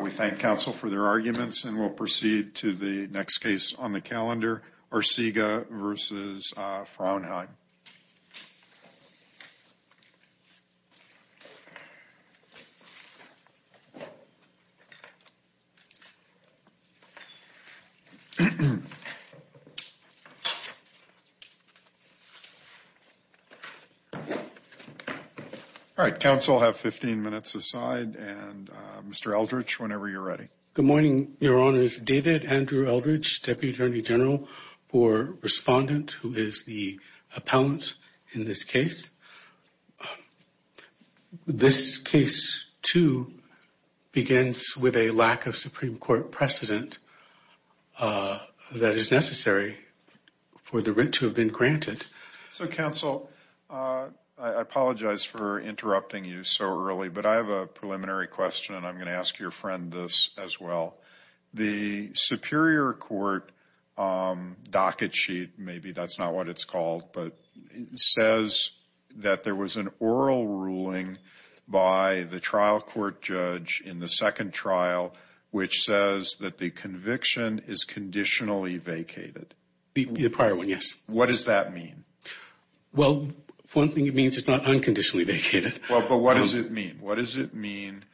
We thank counsel for their arguments and we'll proceed to the next case on the calendar or Siga versus Fraunheim All right counsel have 15 minutes aside and Mr.. Eldridge whenever you're ready good morning your honor is David Andrew Eldridge deputy attorney general for Respondent who is the appellant in this case? This case to begins with a lack of Supreme Court precedent That is necessary for the rent to have been granted so counsel I Asked your friend this as well the superior court Docket sheet, maybe that's not what it's called, but it says that there was an oral ruling By the trial court judge in the second trial which says that the conviction is Conditionally vacated the prior one yes, what does that mean? Well one thing it means it's not unconditionally vacated. Well, but what does it mean? What does it mean?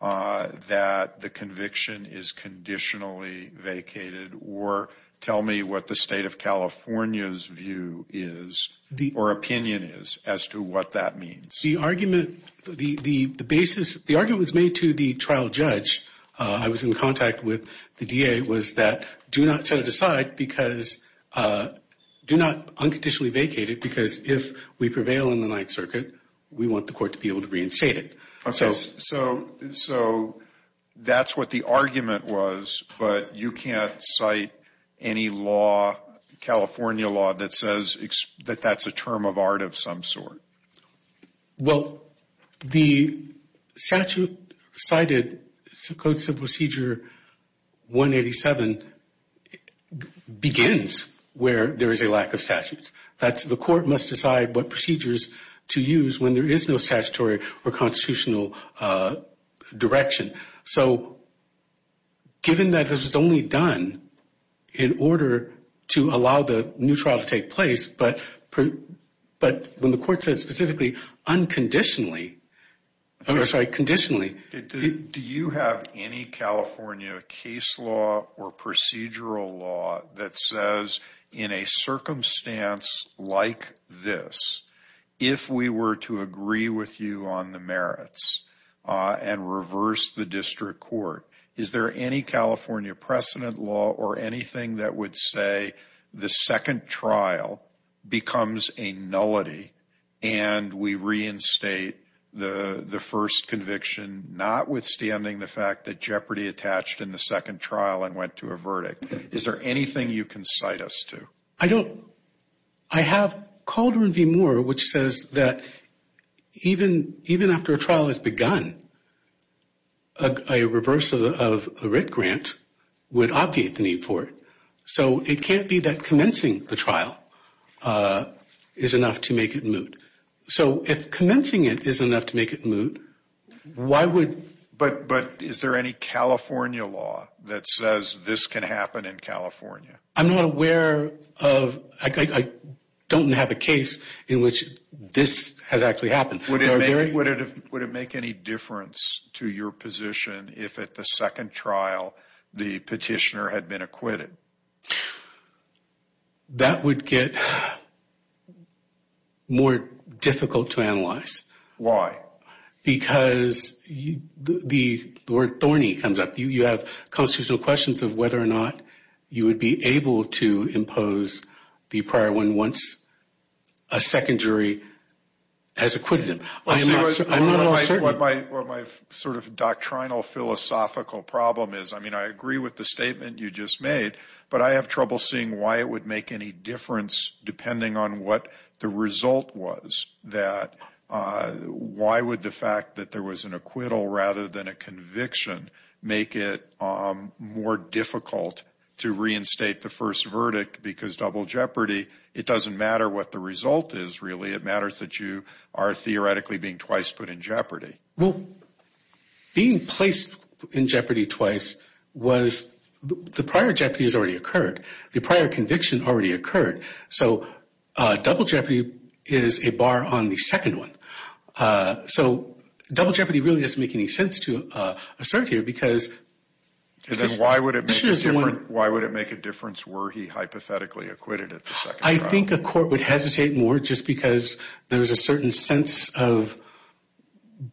That the conviction is Conditionally vacated or tell me what the state of California's view is The or opinion is as to what that means the argument the the the basis the argument was made to the trial judge I was in contact with the DA was that do not set it aside because Do not unconditionally vacated because if we prevail in the Ninth Circuit We want the court to be able to reinstate it okay, so so That's what the argument was, but you can't cite any law California law that says that that's a term of art of some sort well the statute cited some codes of procedure 187 Begins where there is a lack of statutes, that's the court must decide what procedures to use when there is no statutory or constitutional direction so Given that this is only done in order to allow the new trial to take place, but But when the court says specifically unconditionally I'm sorry conditionally Do you have any? California case law or procedural law that says in a circumstance Like this if we were to agree with you on the merits And reverse the district court is there any California precedent law or anything that would say? the second trial becomes a nullity and We reinstate the the first conviction not Withstanding the fact that jeopardy attached in the second trial and went to a verdict is there anything you can cite us to I don't I? Have called her and be more which says that even even after a trial has begun a Reversal of a writ grant would obviate the need for it, so it can't be that commencing the trial Is enough to make it moot so if commencing it is enough to make it moot Why would but but is there any California law that says this can happen in, California? I'm not aware of I Don't have a case in which this has actually happened Would it would it would it make any difference to your position if at the second trial the petitioner had been acquitted? That Would get More difficult to analyze why because The word thorny comes up you you have constitutional questions of whether or not you would be able to impose the prior one once a secondary as acquitted Sort of doctrinal philosophical problem is I mean I agree with the statement you just made But I have trouble seeing why it would make any difference depending on what the result was that Why would the fact that there was an acquittal rather than a conviction make it? More difficult to reinstate the first verdict because double jeopardy it doesn't matter what the result is really it matters that you Are theoretically being twice put in jeopardy well? being placed in jeopardy twice was The prior jeopardy has already occurred the prior conviction already occurred so Double jeopardy is a bar on the second one so double jeopardy really doesn't make any sense to assert here because And then why would it be different? Why would it make a difference were he hypothetically acquitted it? I think a court would hesitate more just because there's a certain sense of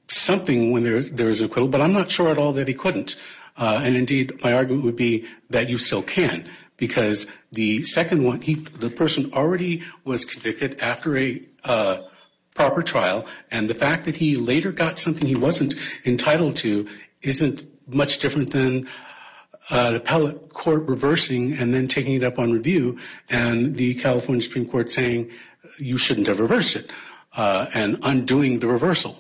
Something when there's there's a quibble But I'm not sure at all that he couldn't and indeed my argument would be that you still can because the second one he the person already was convicted after a Proper trial and the fact that he later got something. He wasn't entitled to isn't much different than The pellet court reversing and then taking it up on review and the California Supreme Court saying you shouldn't have reversed it And undoing the reversal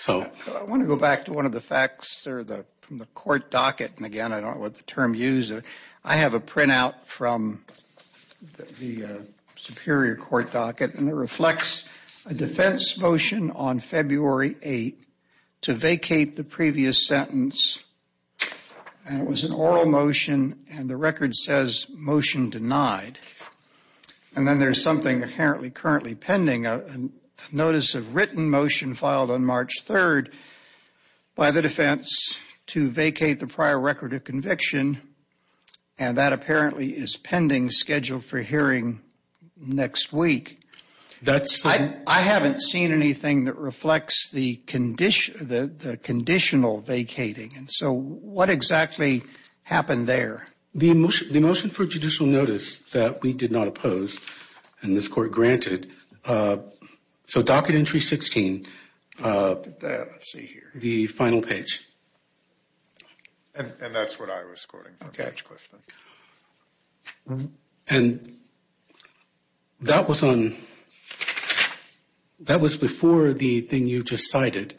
So I want to go back to one of the facts or the from the court docket and again I don't know what the term user. I have a printout from the Superior court docket and it reflects a defense motion on February 8 to vacate the previous sentence And it was an oral motion and the record says motion denied And then there's something apparently currently pending a notice of written motion filed on March 3rd by the defense to vacate the prior record of conviction and That apparently is pending scheduled for hearing next week That's I haven't seen anything that reflects the condition the conditional vacating And so what exactly? Happened there the emotion the motion for judicial notice that we did not oppose and this court granted so docket entry 16 The final page And that was on That was before the thing you just cited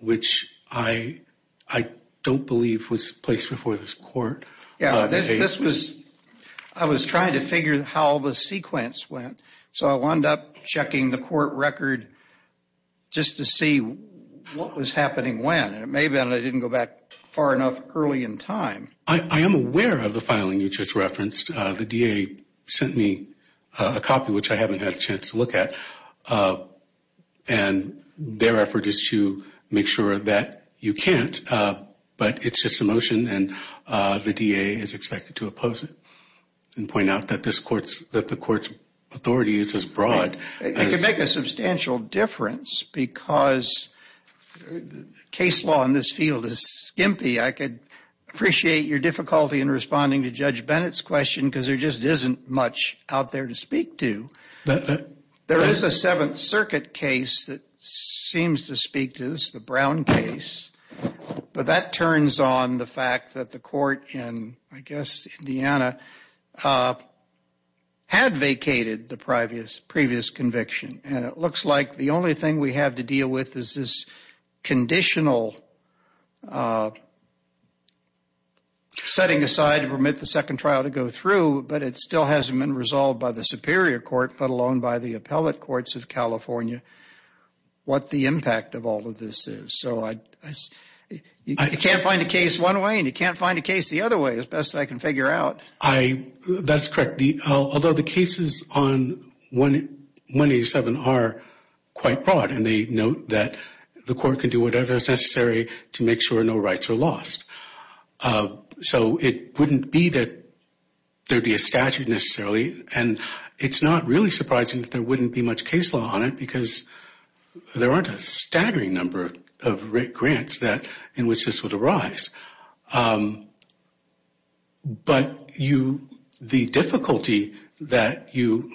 Which I I don't believe was placed before this court Yeah, this was I was trying to figure how the sequence went. So I wound up checking the court record Just to see what was happening when it may have been I didn't go back far enough early in time I am aware of the filing you just referenced the DA sent me a copy which I haven't had a chance to look at and Their effort is to make sure that you can't But it's just a motion and the DA is expected to oppose it And point out that this courts that the courts authority is as broad. It can make a substantial difference because Case law in this field is skimpy I could appreciate your difficulty in responding to judge Bennett's question because there just isn't much out there to speak to There is a Seventh Circuit case that seems to speak to this the Brown case But that turns on the fact that the court and I guess, Indiana Had vacated the previous previous conviction and it looks like the only thing we have to deal with is this conditional Setting aside to permit the second trial to go through but it still hasn't been resolved by the Superior Court let alone by the Appellate Courts of California what the impact of all of this is so I You can't find a case one way and you can't find a case. The other way as best I can figure out I That's correct. The although the cases on when 187 are quite broad and they note that the court can do whatever is necessary to make sure no rights are lost So it wouldn't be that Dirty a statute necessarily and it's not really surprising that there wouldn't be much case law on it because There aren't a staggering number of great grants that in which this would arise But you the difficulty that you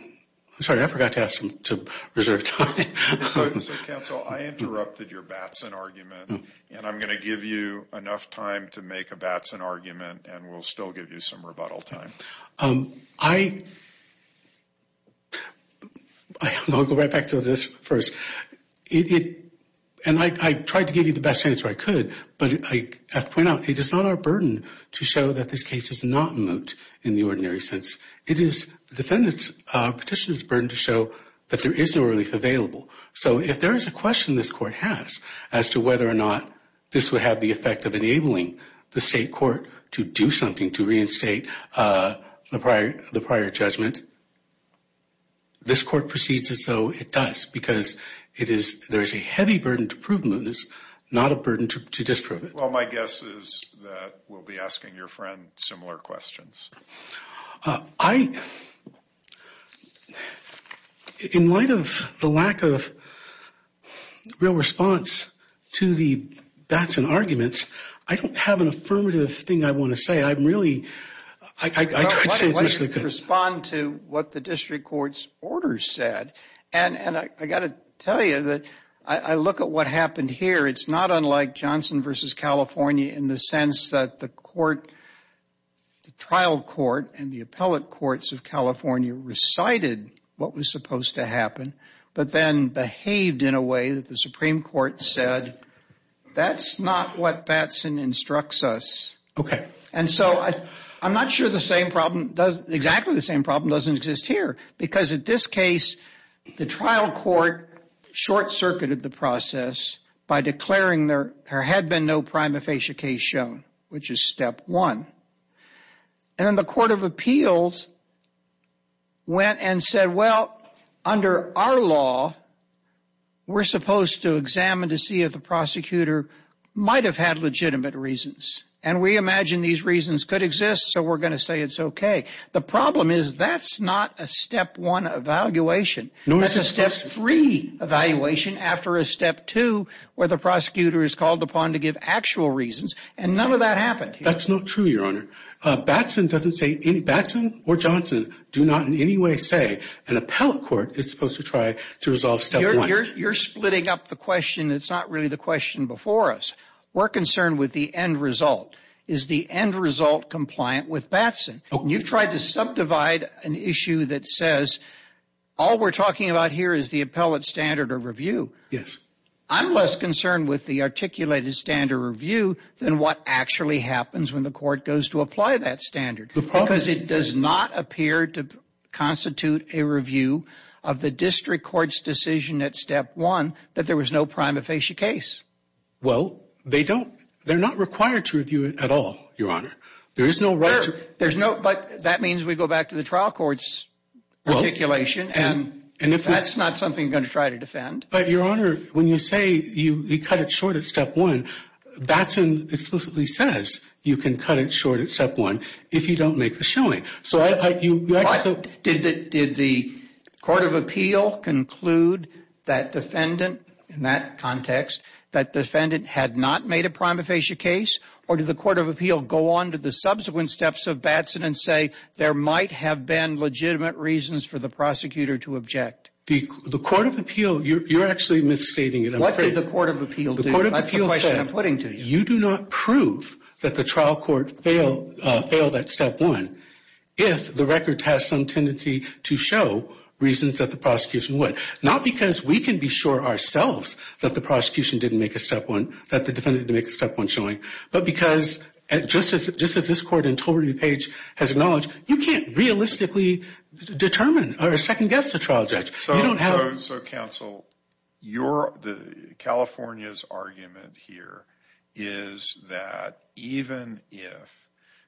I'm sorry, I forgot to ask them to reserve time And I'm gonna give you enough time to make a Batson argument and we'll still give you some rebuttal time I Won't go right back to this first Idiot and I tried to give you the best answer I could but I have to point out It is not our burden to show that this case is not moot in the ordinary sense It is defendants petitioners burden to show that there is no relief available so if there is a question this court has as to whether or not this would have the effect of enabling the state court to Do something to reinstate? the prior the prior judgment This court proceeds as though it does because it is there is a heavy burden to prove mootness not a burden to disprove it Well, my guess is that we'll be asking your friend similar questions. I In light of the lack of Real response to the Batson arguments. I don't have an affirmative thing. I want to say I'm really I Respond to what the district courts order said and and I got to tell you that I look at what happened here It's not unlike Johnson versus, California in the sense that the court the trial court and the appellate courts of California Recited what was supposed to happen, but then behaved in a way that the Supreme Court said That's not what Batson instructs us, okay And so I I'm not sure the same problem does exactly the same problem doesn't exist here because at this case the trial court Short-circuited the process by declaring there had been no prima facie case shown which is step one and then the Court of Appeals Went and said well under our law We're supposed to examine to see if the prosecutor Might have had legitimate reasons and we imagine these reasons could exist. So we're gonna say it's okay The problem is that's not a step one Evaluation. No, it's a step three Evaluation after a step two where the prosecutor is called upon to give actual reasons and none of that happened That's not true Your honor Batson doesn't say any Batson or Johnson do not in any way say an appellate court is supposed to try to resolve step one You're splitting up the question. It's not really the question before us We're concerned with the end result is the end result compliant with Batson You've tried to subdivide an issue that says all we're talking about here is the appellate standard or review Yes, I'm less concerned with the articulated standard review than what actually happens when the court goes to apply that standard the process it does not appear to Constitute a review of the district courts decision at step one that there was no prima facie case Well, they don't they're not required to review it at all. Your honor. There is no right There's no but that means we go back to the trial courts Articulation and and if that's not something going to try to defend but your honor when you say you cut it short at step one Batson explicitly says you can cut it short at step one if you don't make the showing so I thought you did that did the Court of Appeal conclude that defendant in that context that defendant had not made a prima facie case Or did the Court of Appeal go on to the subsequent steps of Batson and say there might have been Legitimate reasons for the prosecutor to object the the Court of Appeal. You're actually misstating it I'm afraid the Court of Appeal the Court of Appeal said I'm putting to you do not prove that the trial court failed Failed at step one if the record has some tendency to show Reasons that the prosecution would not because we can be sure ourselves That the prosecution didn't make a step one that the defendant to make a step one showing but because Just as it just as this court in Torrey page has acknowledged. You can't realistically Determine or a second guess a trial judge. So you don't have so counsel your the California's argument here is that even if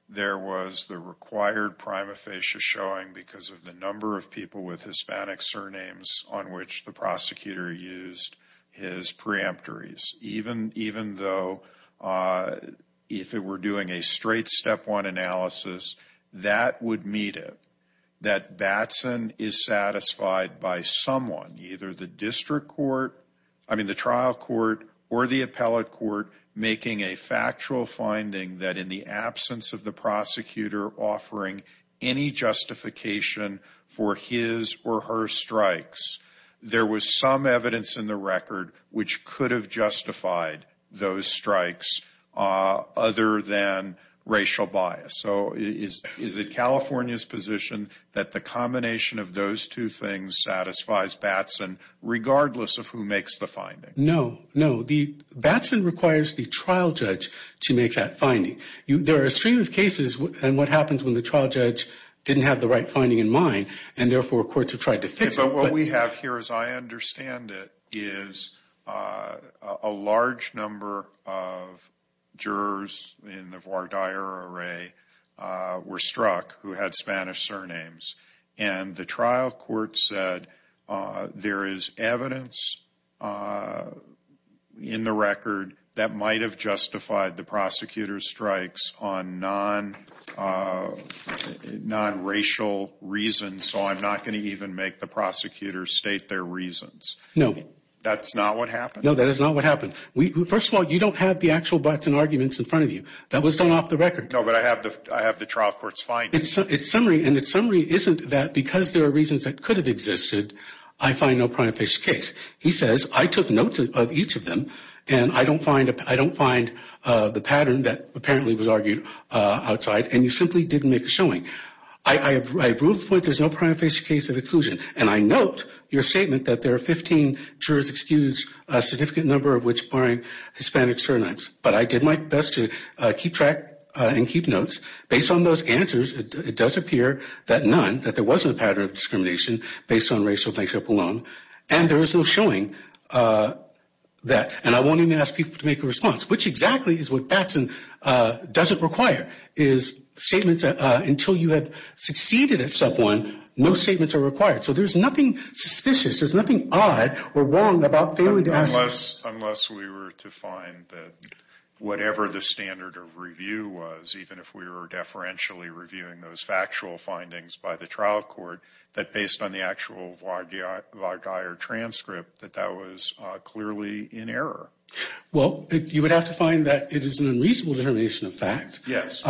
There was the required prima facie showing because of the number of people with Hispanic surnames on which the prosecutor used his preemptories even even though If it were doing a straight step one analysis that would meet it that Batson is satisfied by someone either the district court I mean the trial court or the appellate court making a factual finding that in the absence of the prosecutor offering any justification for his or her strikes There was some evidence in the record which could have justified those strikes other than Racial bias. So is it California's position that the combination of those two things satisfies Batson? Regardless of who makes the finding no No The Batson requires the trial judge to make that finding you there are a stream of cases And what happens when the trial judge? Didn't have the right finding in mind and therefore courts have tried to fix but what we have here as I understand it is a large number of jurors in the voir dire array Were struck who had Spanish surnames and the trial court said There is evidence In the record that might have justified the prosecutor's strikes on non Non Racial reasons, so I'm not going to even make the prosecutors state their reasons. No, that's not what happened No, that is not what happened. We first of all, you don't have the actual Batson arguments in front of you That was done off the record No But I have the I have the trial courts fine It's it's summary and it's summary isn't that because there are reasons that could have existed. I find no point of this case He says I took notes of each of them and I don't find it. I don't find the pattern that apparently was argued Outside and you simply didn't make a showing I I agree with what there's no prime face case of exclusion And I note your statement that there are 15 jurors excused a significant number of which barring Hispanic surnames But I did my best to keep track and keep notes based on those answers It does appear that none that there wasn't a pattern of discrimination based on racial makeup alone, and there is no showing That and I won't even ask people to make a response which exactly is what Batson Doesn't require is Statements until you have succeeded at sub one. No statements are required. So there's nothing suspicious There's nothing odd or wrong about failing to ask us unless we were to find that Whatever the standard of review was even if we were deferentially reviewing those factual findings by the trial court That based on the actual vlog. Yeah, our dire transcript that that was clearly in error Well, you would have to find that it is an unreasonable determination of fact, yes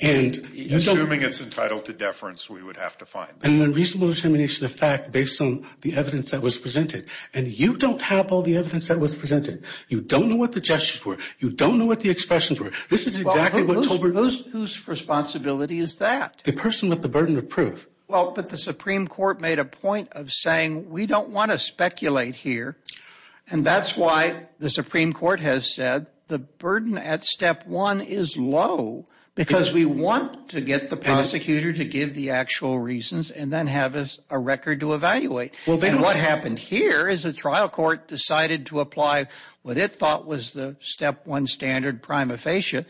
and Assuming it's entitled to deference We would have to find an unreasonable determination of fact based on the evidence that was presented and you don't have all the evidence that Was presented you don't know what the gestures were. You don't know what the expressions were. This is exactly what over those whose Responsibility is that the person with the burden of proof? Well, but the Supreme Court made a point of saying we don't want to speculate here And that's why the Supreme Court has said the burden at step one is low Because we want to get the prosecutor to give the actual reasons and then have us a record to evaluate Well, then what happened here is a trial court decided to apply what it thought was the step one standard prima facie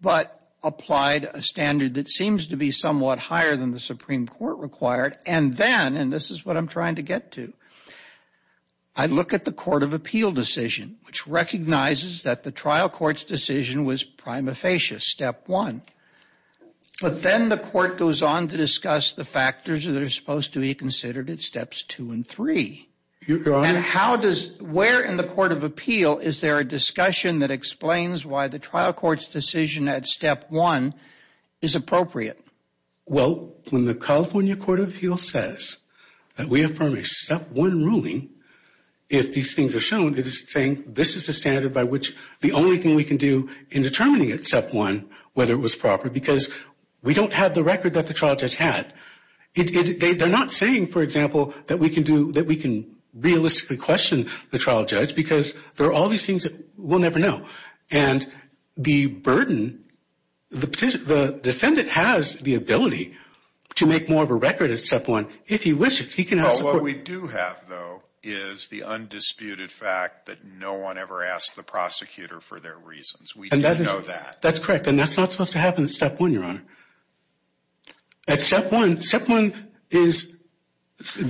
But applied a standard that seems to be somewhat higher than the Supreme Court required and then and this is what I'm trying to get to I Look at the Court of Appeal decision, which recognizes that the trial court's decision was prima facie step one But then the court goes on to discuss the factors that are supposed to be considered at steps two and three You're gone. How does where in the Court of Appeal? Is there a discussion that explains why the trial court's decision at step one is? Appropriate. Well when the California Court of Appeal says that we affirm except one ruling If these things are shown it is saying this is a standard by which the only thing we can do in Determining except one whether it was proper because we don't have the record that the trial judge had They're not saying for example that we can do that we can realistically question the trial judge because there are all these things that we'll never know and the burden The petition the defendant has the ability to make more of a record except one if he wishes he can We do have though is the undisputed fact that no one ever asked the prosecutor for their reasons We know that that's correct, and that's not supposed to happen at step one. You're on at step one step one is She's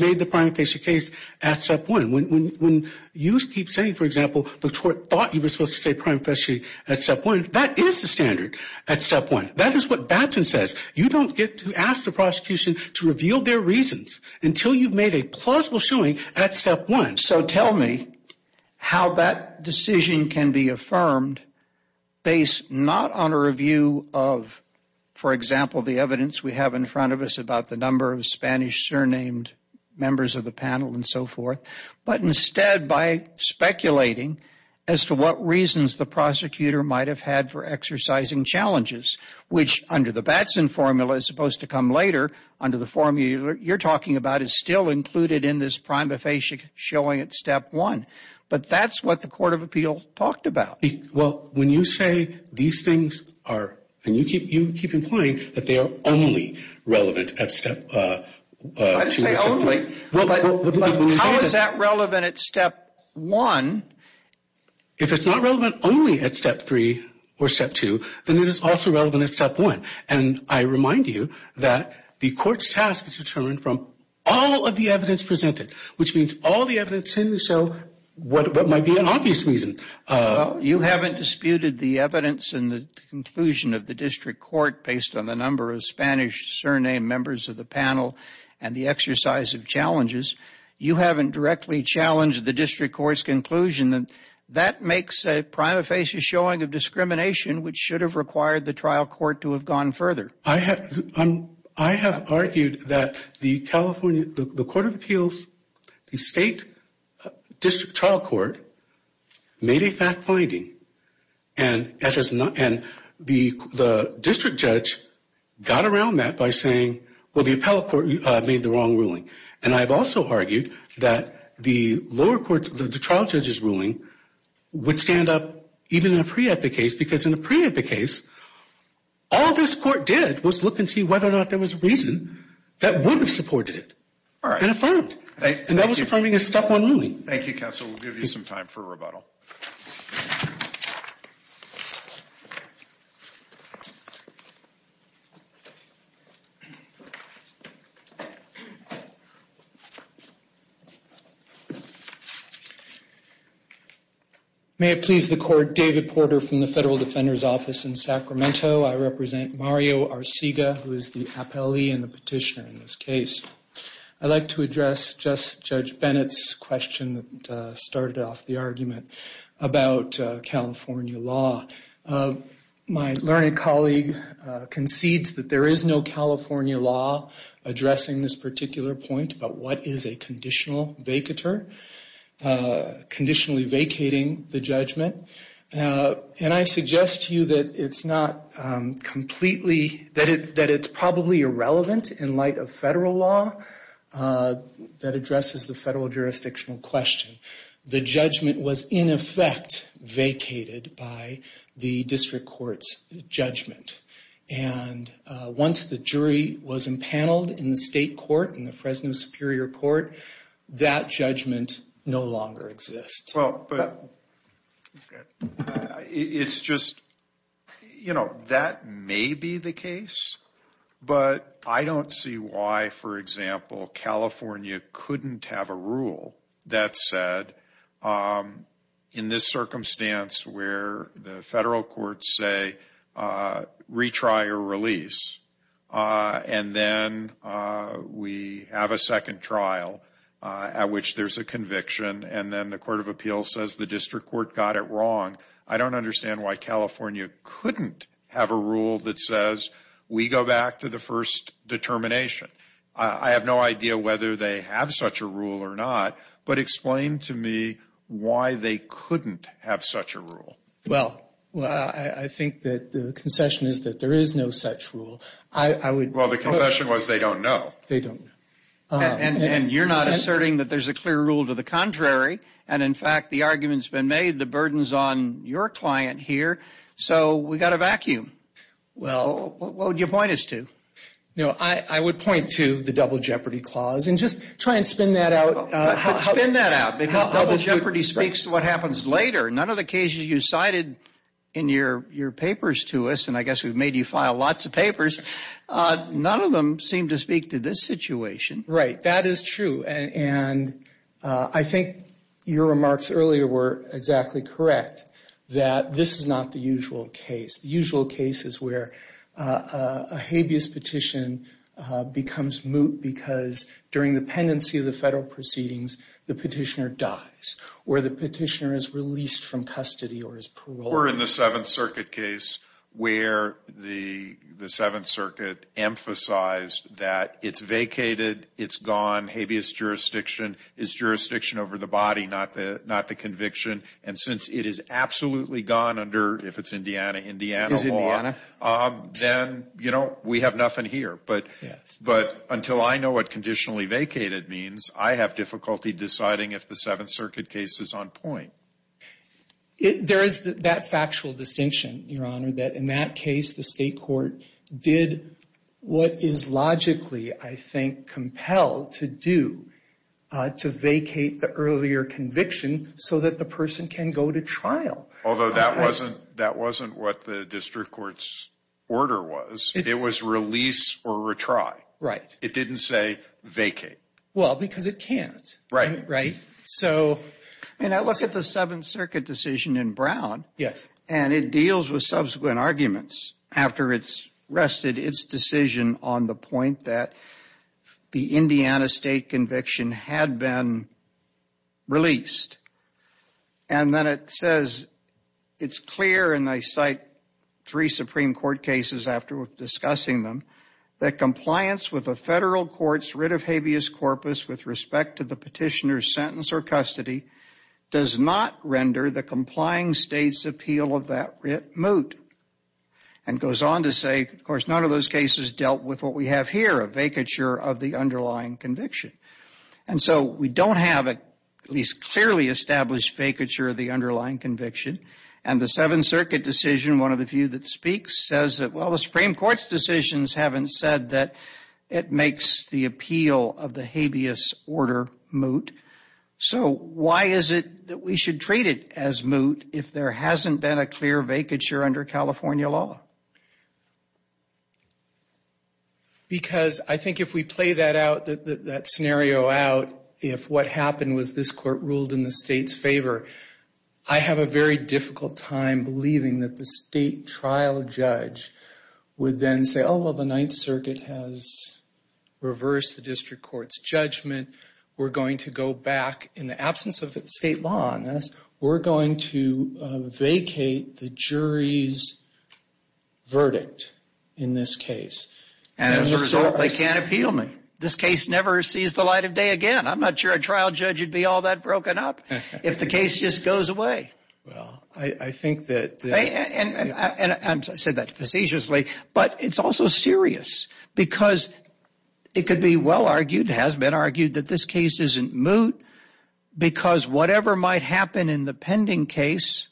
made the prima facie case at step one when You keep saying for example the court thought you were supposed to say prima facie at step one That is the standard at step one That is what Batson says you don't get to ask the prosecution to reveal their reasons until you've made a plausible showing at step one So tell me how that decision can be affirmed based not on a review of For example the evidence we have in front of us about the number of Spanish surnamed members of the panel and so forth but instead by Speculating as to what reasons the prosecutor might have had for exercising challenges Which under the Batson formula is supposed to come later under the formula you're talking about is still included in this prima facie Showing at step one, but that's what the Court of Appeal talked about well When you say these things are and you keep you keep implying that they are only relevant at step One If it's not relevant only at step three or step two then it is also relevant at step one And I remind you that the court's task is determined from all of the evidence presented which means all the evidence in the show What might be an obvious reason? You haven't disputed the evidence in the conclusion of the district court based on the number of Spanish Surnamed members of the panel and the exercise of challenges you haven't directly challenged the district courts conclusion that That makes a prima facie showing of discrimination, which should have required the trial court to have gone further I have I have argued that the California the Court of Appeals the state district trial court made a fact-finding and The the district judge Got around that by saying well the appellate court made the wrong ruling and I've also argued that the lower court the trial judge's ruling Would stand up even in a pre-epic case because in a pre-epic case All this court did was look and see whether or not there was a reason that would have supported it All right, and that was affirming a step one ruling. Thank you counsel. We'll give you some time for rebuttal May It please the court David Porter from the Federal Defender's Office in Sacramento I represent Mario Arcega who is the appellee and the petitioner in this case? I'd like to address just judge Bennett's question that started off the argument about California law my learned colleague Concedes that there is no California law Addressing this particular point, but what is a conditional vacator? Conditionally vacating the judgment And I suggest to you that it's not Completely that it that it's probably irrelevant in light of federal law That addresses the federal jurisdictional question the judgment was in effect vacated by the district courts judgment and Once the jury was impaneled in the state court in the Fresno Superior Court that judgment no longer exists It's just You know that may be the case But I don't see why for example California couldn't have a rule that said in this circumstance where the federal courts say retry or release and then We have a second trial At which there's a conviction and then the Court of Appeals says the district court got it wrong I don't understand why California couldn't have a rule that says we go back to the first Determination. I have no idea whether they have such a rule or not, but explain to me Why they couldn't have such a rule. Well, well, I think that the concession is that there is no such rule I I would well the concession was they don't know they don't And you're not asserting that there's a clear rule to the contrary And in fact, the arguments been made the burdens on your client here. So we got a vacuum Well, what would you point us to? No, I I would point to the double jeopardy clause and just try and spin that out Jeopardy speaks to what happens later none of the cases you cited in your your papers to us And I guess we've made you file lots of papers None of them seem to speak to this situation, right? That is true. And I think Your remarks earlier were exactly correct that this is not the usual case. The usual case is where? a habeas petition becomes moot because During the pendency of the federal proceedings the petitioner dies where the petitioner is released from custody or his parole We're in the Seventh Circuit case where the the Seventh Circuit Emphasized that it's vacated it's gone habeas jurisdiction is Jurisdiction over the body not the not the conviction and since it is absolutely gone under if it's Indiana, Indiana Then you know, we have nothing here But yes, but until I know what conditionally vacated means I have difficulty deciding if the Seventh Circuit case is on point There is that factual distinction your honor that in that case the state court did What is logically I think compelled to do? To vacate the earlier conviction so that the person can go to trial Although that wasn't that wasn't what the district courts order was it was release or retry, right? It didn't say vacate well because it can't right, right So and I look at the Seventh Circuit decision in Brown Yes, and it deals with subsequent arguments after it's rested its decision on the point that the Indiana state conviction had been released and Then it says It's clear and I cite three Supreme Court cases after discussing them that compliance with a federal Courts writ of habeas corpus with respect to the petitioner's sentence or custody Does not render the complying states appeal of that writ moot and Goes on to say of course None of those cases dealt with what we have here a vacature of the underlying conviction And so we don't have it at least clearly established vacature of the underlying conviction and the Seventh Circuit Decision one of the few that speaks says that well the Supreme Court's decisions Haven't said that it makes the appeal of the habeas order moot So, why is it that we should treat it as moot if there hasn't been a clear vacature under California law Because I think if we play that out that that scenario out if what happened was this court ruled in the state's favor I Have a very difficult time believing that the state trial judge would then say oh well the Ninth Circuit has Reversed the district court's judgment. We're going to go back in the absence of the state law on this. We're going to vacate the jury's verdict in this case and They can't appeal me this case never sees the light of day again I'm not sure a trial judge. You'd be all that broken up if the case just goes away. Well, I think that Said that facetiously, but it's also serious because It could be well argued has been argued that this case isn't moot because whatever might happen in the pending case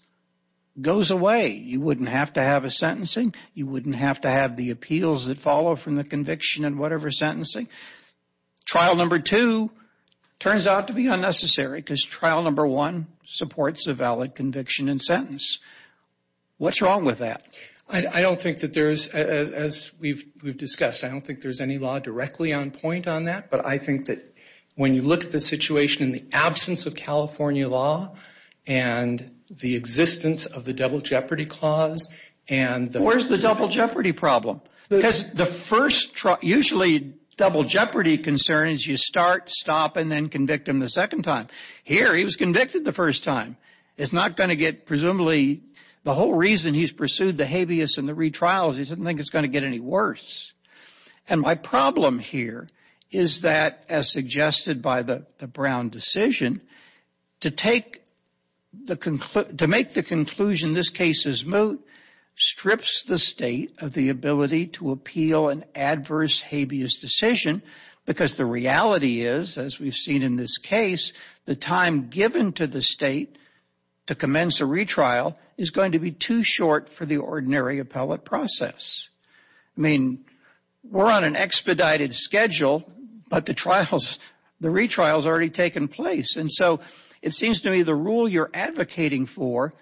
Goes away. You wouldn't have to have a sentencing. You wouldn't have to have the appeals that follow from the conviction and whatever sentencing trial number two Turns out to be unnecessary because trial number one supports a valid conviction and sentence What's wrong with that? I don't think that there's as we've we've discussed I don't think there's any law directly on point on that but I think that when you look at the situation in the absence of California law and the existence of the double jeopardy clause and Where's the double jeopardy problem? There's the first truck usually double jeopardy concerns you start stop and then convict him the second time here He was convicted the first time it's not going to get presumably the whole reason he's pursued the habeas and the retrials He doesn't think it's going to get any worse And my problem here is that as suggested by the the Brown decision to take The conclude to make the conclusion. This case is moot Strips the state of the ability to appeal an adverse habeas decision Because the reality is as we've seen in this case the time given to the state To commence a retrial is going to be too short for the ordinary appellate process. I mean We're on an expedited schedule But the trials the retrials already taken place. And so it seems to me the rule you're advocating for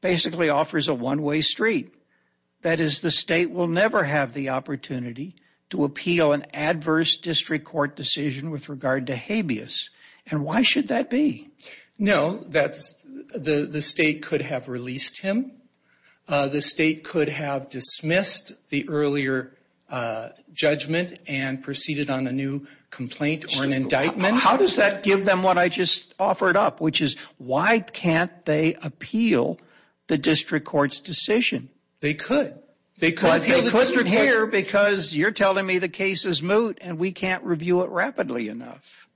Basically offers a one-way street That is the state will never have the opportunity to appeal an adverse District Court decision with regard to habeas and why should that be? No, that's the the state could have released him The state could have dismissed the earlier Judgment and proceeded on a new complaint or an indictment How does that give them what I just offered up which is why can't they appeal the district courts decision? They could they could have a cluster here because you're telling me the case is moot and we can't review it rapidly enough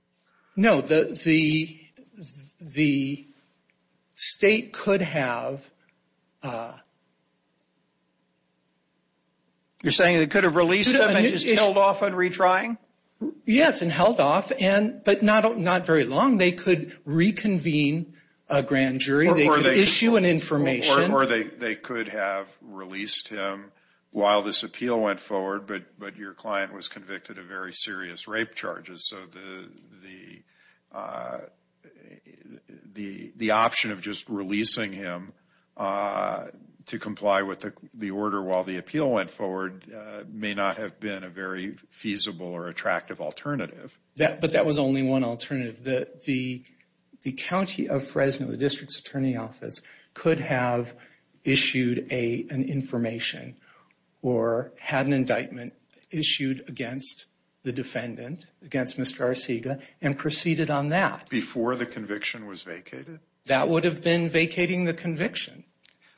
no, the the state could have a You're saying it could have released it and just held off on retrying Yes, and held off and but not not very long. They could reconvene a grand jury They were they issue an information or they they could have released him while this appeal went forward but but your client was convicted of very serious rape charges, so the The the option of just releasing him To comply with the order while the appeal went forward may not have been a very feasible or attractive alternative Yeah, but that was only one alternative that the the County of Fresno the district's attorney office could have issued a an information or Had an indictment issued against the defendant against mr. Arcega and proceeded on that before the conviction was vacated that would have been vacating the conviction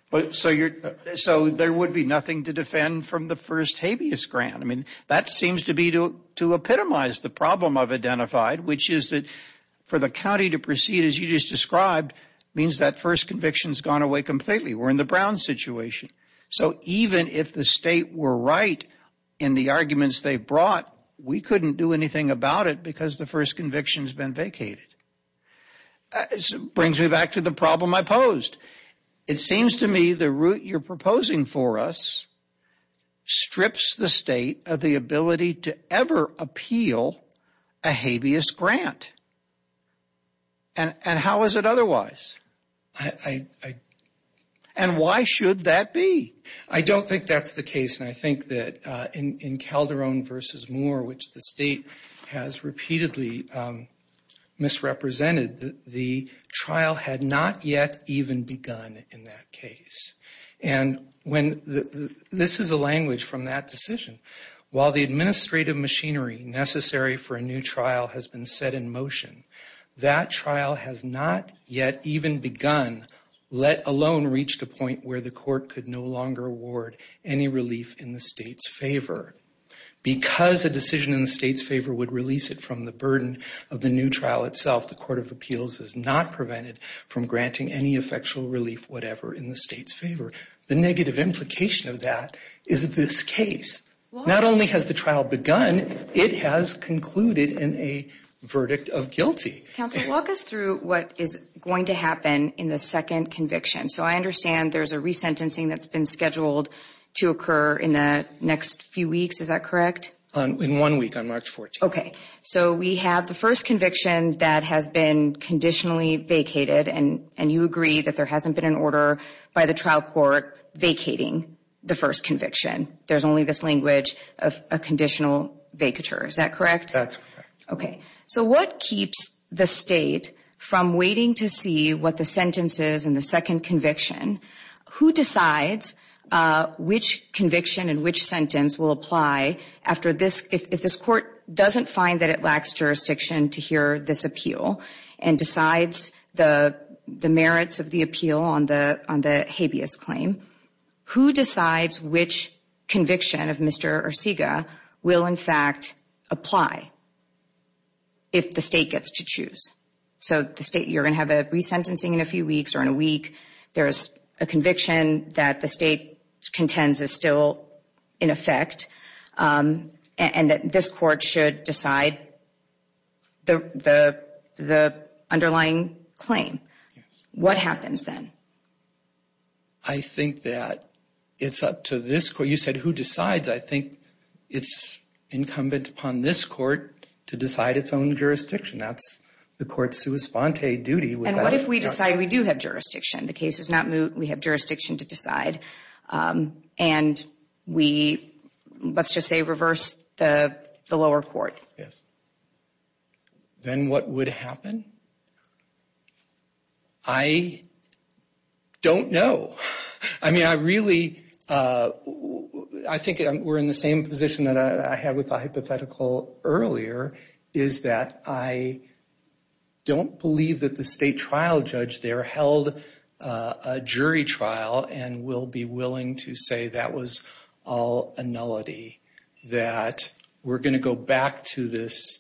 But so you're so there would be nothing to defend from the first habeas grant I mean that seems to be to to epitomize the problem of identified Which is that for the county to proceed as you just described means that first convictions gone away completely We're in the Brown situation So even if the state were right in the arguments they brought we couldn't do anything about it because the first conviction has been vacated Brings me back to the problem. I posed it seems to me the route you're proposing for us strips the state of the ability to ever appeal a habeas grant and And how is it otherwise I? and Why should that be I don't think that's the case and I think that in in Calderon versus Moore which the state? has repeatedly Misrepresented the trial had not yet even begun in that case and when This is a language from that decision while the administrative machinery necessary for a new trial has been set in motion That trial has not yet even begun Let alone reached a point where the court could no longer award any relief in the state's favor Because a decision in the state's favor would release it from the burden of the new trial itself the Court of Appeals is not Prevented from granting any effectual relief whatever in the state's favor the negative implication of that is this case? Not only has the trial begun it has concluded in a verdict of guilty Walk us through what is going to happen in the second conviction, so I understand There's a resentencing that's been scheduled to occur in the next few weeks is that correct in one week on March 14 Okay, so we have the first conviction that has been Conditionally vacated and and you agree that there hasn't been an order by the trial court Vacating the first conviction. There's only this language of a conditional vacatures that correct Okay, so what keeps the state from waiting to see what the sentence is in the second conviction? Who decides? Which conviction and which sentence will apply after this if this court doesn't find that it lacks? Jurisdiction to hear this appeal and decides the the merits of the appeal on the on the habeas claim Who decides which? Conviction of Mr.. Or SIGA will in fact apply If the state gets to choose so the state you're gonna have a resentencing in a few weeks or in a week There's a conviction that the state contends is still in effect And that this court should decide the the the underlying claim what happens then I Think that it's up to this court. You said who decides I think it's Incumbent upon this court to decide its own jurisdiction. That's the court's sui sponte duty And what if we decide we do have jurisdiction the case is not moot we have jurisdiction to decide and we Let's just say reverse the the lower court. Yes then what would happen I Don't know I mean I really I think we're in the same position that I had with a hypothetical earlier. Is that I Don't believe that the state trial judge there held a jury trial and will be willing to say that was all a nullity That we're gonna go back to this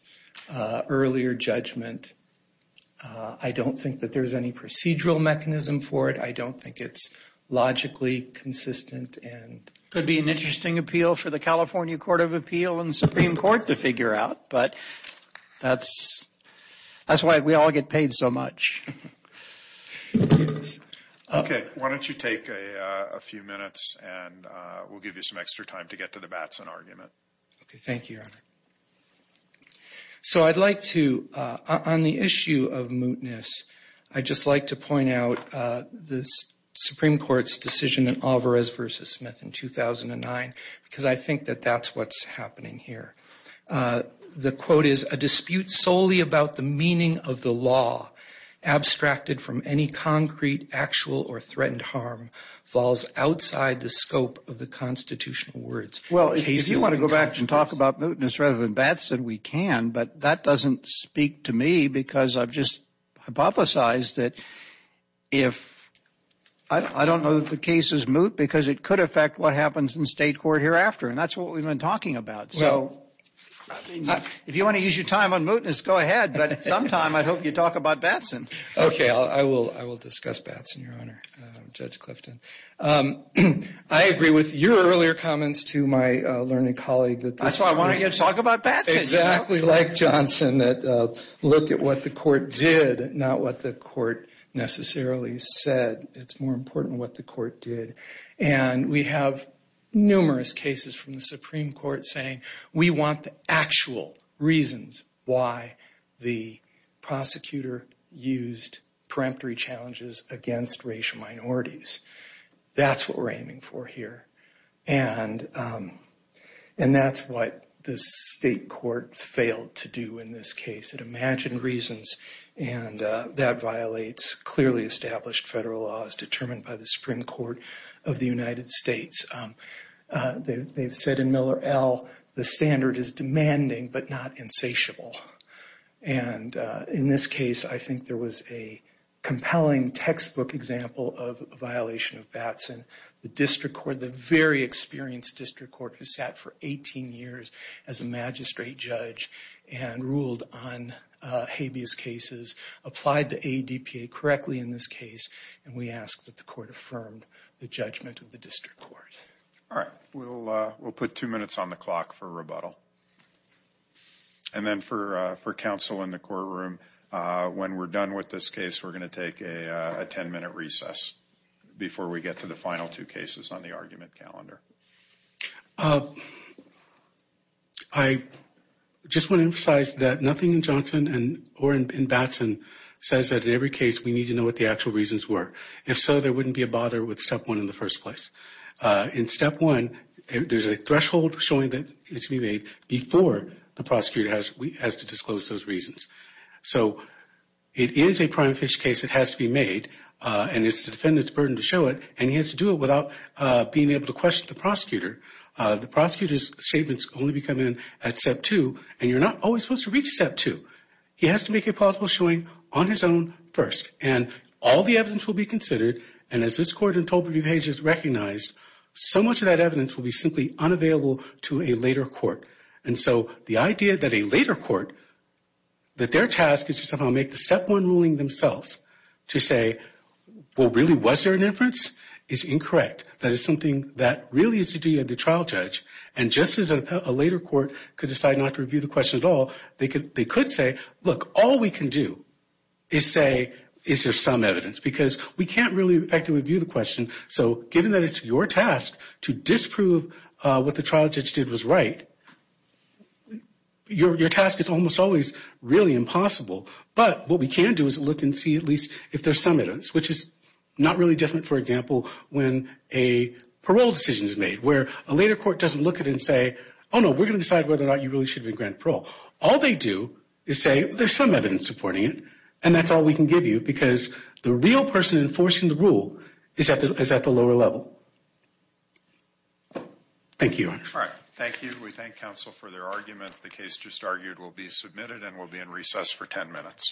earlier judgment I don't think that there's any procedural mechanism for it. I don't think it's Logically consistent and could be an interesting appeal for the California Court of Appeal and Supreme Court to figure out but that's That's why we all get paid so much Okay, why don't you take a few minutes and we'll give you some extra time to get to the Batson argument, okay Thank you So I'd like to on the issue of mootness I just like to point out this Supreme Court's decision in Alvarez versus Smith in 2009 because I think that that's what's happening here The quote is a dispute solely about the meaning of the law Abstracted from any concrete actual or threatened harm falls outside the scope of the constitutional words Well, if you want to go back and talk about mootness rather than bats that we can but that doesn't speak to me because I've just hypothesized that if I Don't know that the case is moot because it could affect what happens in state court hereafter and that's what we've been talking about so If you want to use your time on mootness, go ahead, but sometime I hope you talk about Batson. Okay, I will I will discuss Batson Your honor judge Clifton. I Agree with your earlier comments to my learning colleague. That's why I want to talk about bad Exactly like Johnson that looked at what the court did not what the court Necessarily said it's more important what the court did and we have Numerous cases from the Supreme Court saying we want the actual reasons why the prosecutor used Peremptory challenges against racial minorities that's what we're aiming for here and and that's what the state court failed to do in this case it imagined reasons and That violates clearly established federal laws determined by the Supreme Court of the United States they've said in Miller L the standard is demanding but not insatiable and in this case, I think there was a compelling textbook example of a violation of Batson the district court the very experienced district court who sat for 18 years as a magistrate judge and ruled on Habeas cases applied to a DPA correctly in this case and we asked that the court affirmed the judgment of the district court alright, we'll we'll put two minutes on the clock for rebuttal and Then for for counsel in the courtroom When we're done with this case, we're going to take a 10-minute recess Before we get to the final two cases on the argument calendar I Just want to emphasize that nothing in Johnson and or in Batson Says that in every case we need to know what the actual reasons were if so There wouldn't be a bother with step one in the first place In step one, there's a threshold showing that it's to be made before the prosecutor has we has to disclose those reasons so It is a prime fish case It has to be made and it's the defendants burden to show it and he has to do it without Being able to question the prosecutor The prosecutor's statements only become in at step two and you're not always supposed to reach step two He has to make it possible showing on his own first and all the evidence will be considered and as this court in total pages recognized So much of that evidence will be simply unavailable to a later court. And so the idea that a later court That their task is to somehow make the step one ruling themselves to say What really was there an inference is? Incorrect. That is something that really is to do at the trial judge and just as a later court could decide not to review the Question at all. They could they could say look all we can do is Is there some evidence because we can't really actively view the question so given that it's your task to disprove What the trial judge did was right? Your task is almost always really impossible but what we can do is look and see at least if there's some evidence which is not really different for example when a Parole decision is made where a later court doesn't look at it and say oh, no We're gonna decide whether or not you really should be grant parole All they do is say there's some evidence supporting it And that's all we can give you because the real person enforcing the rule is at the is at the lower level Thank you, all right, thank you we thank counsel for their argument the case just argued will be submitted and will be in recess for 10 minutes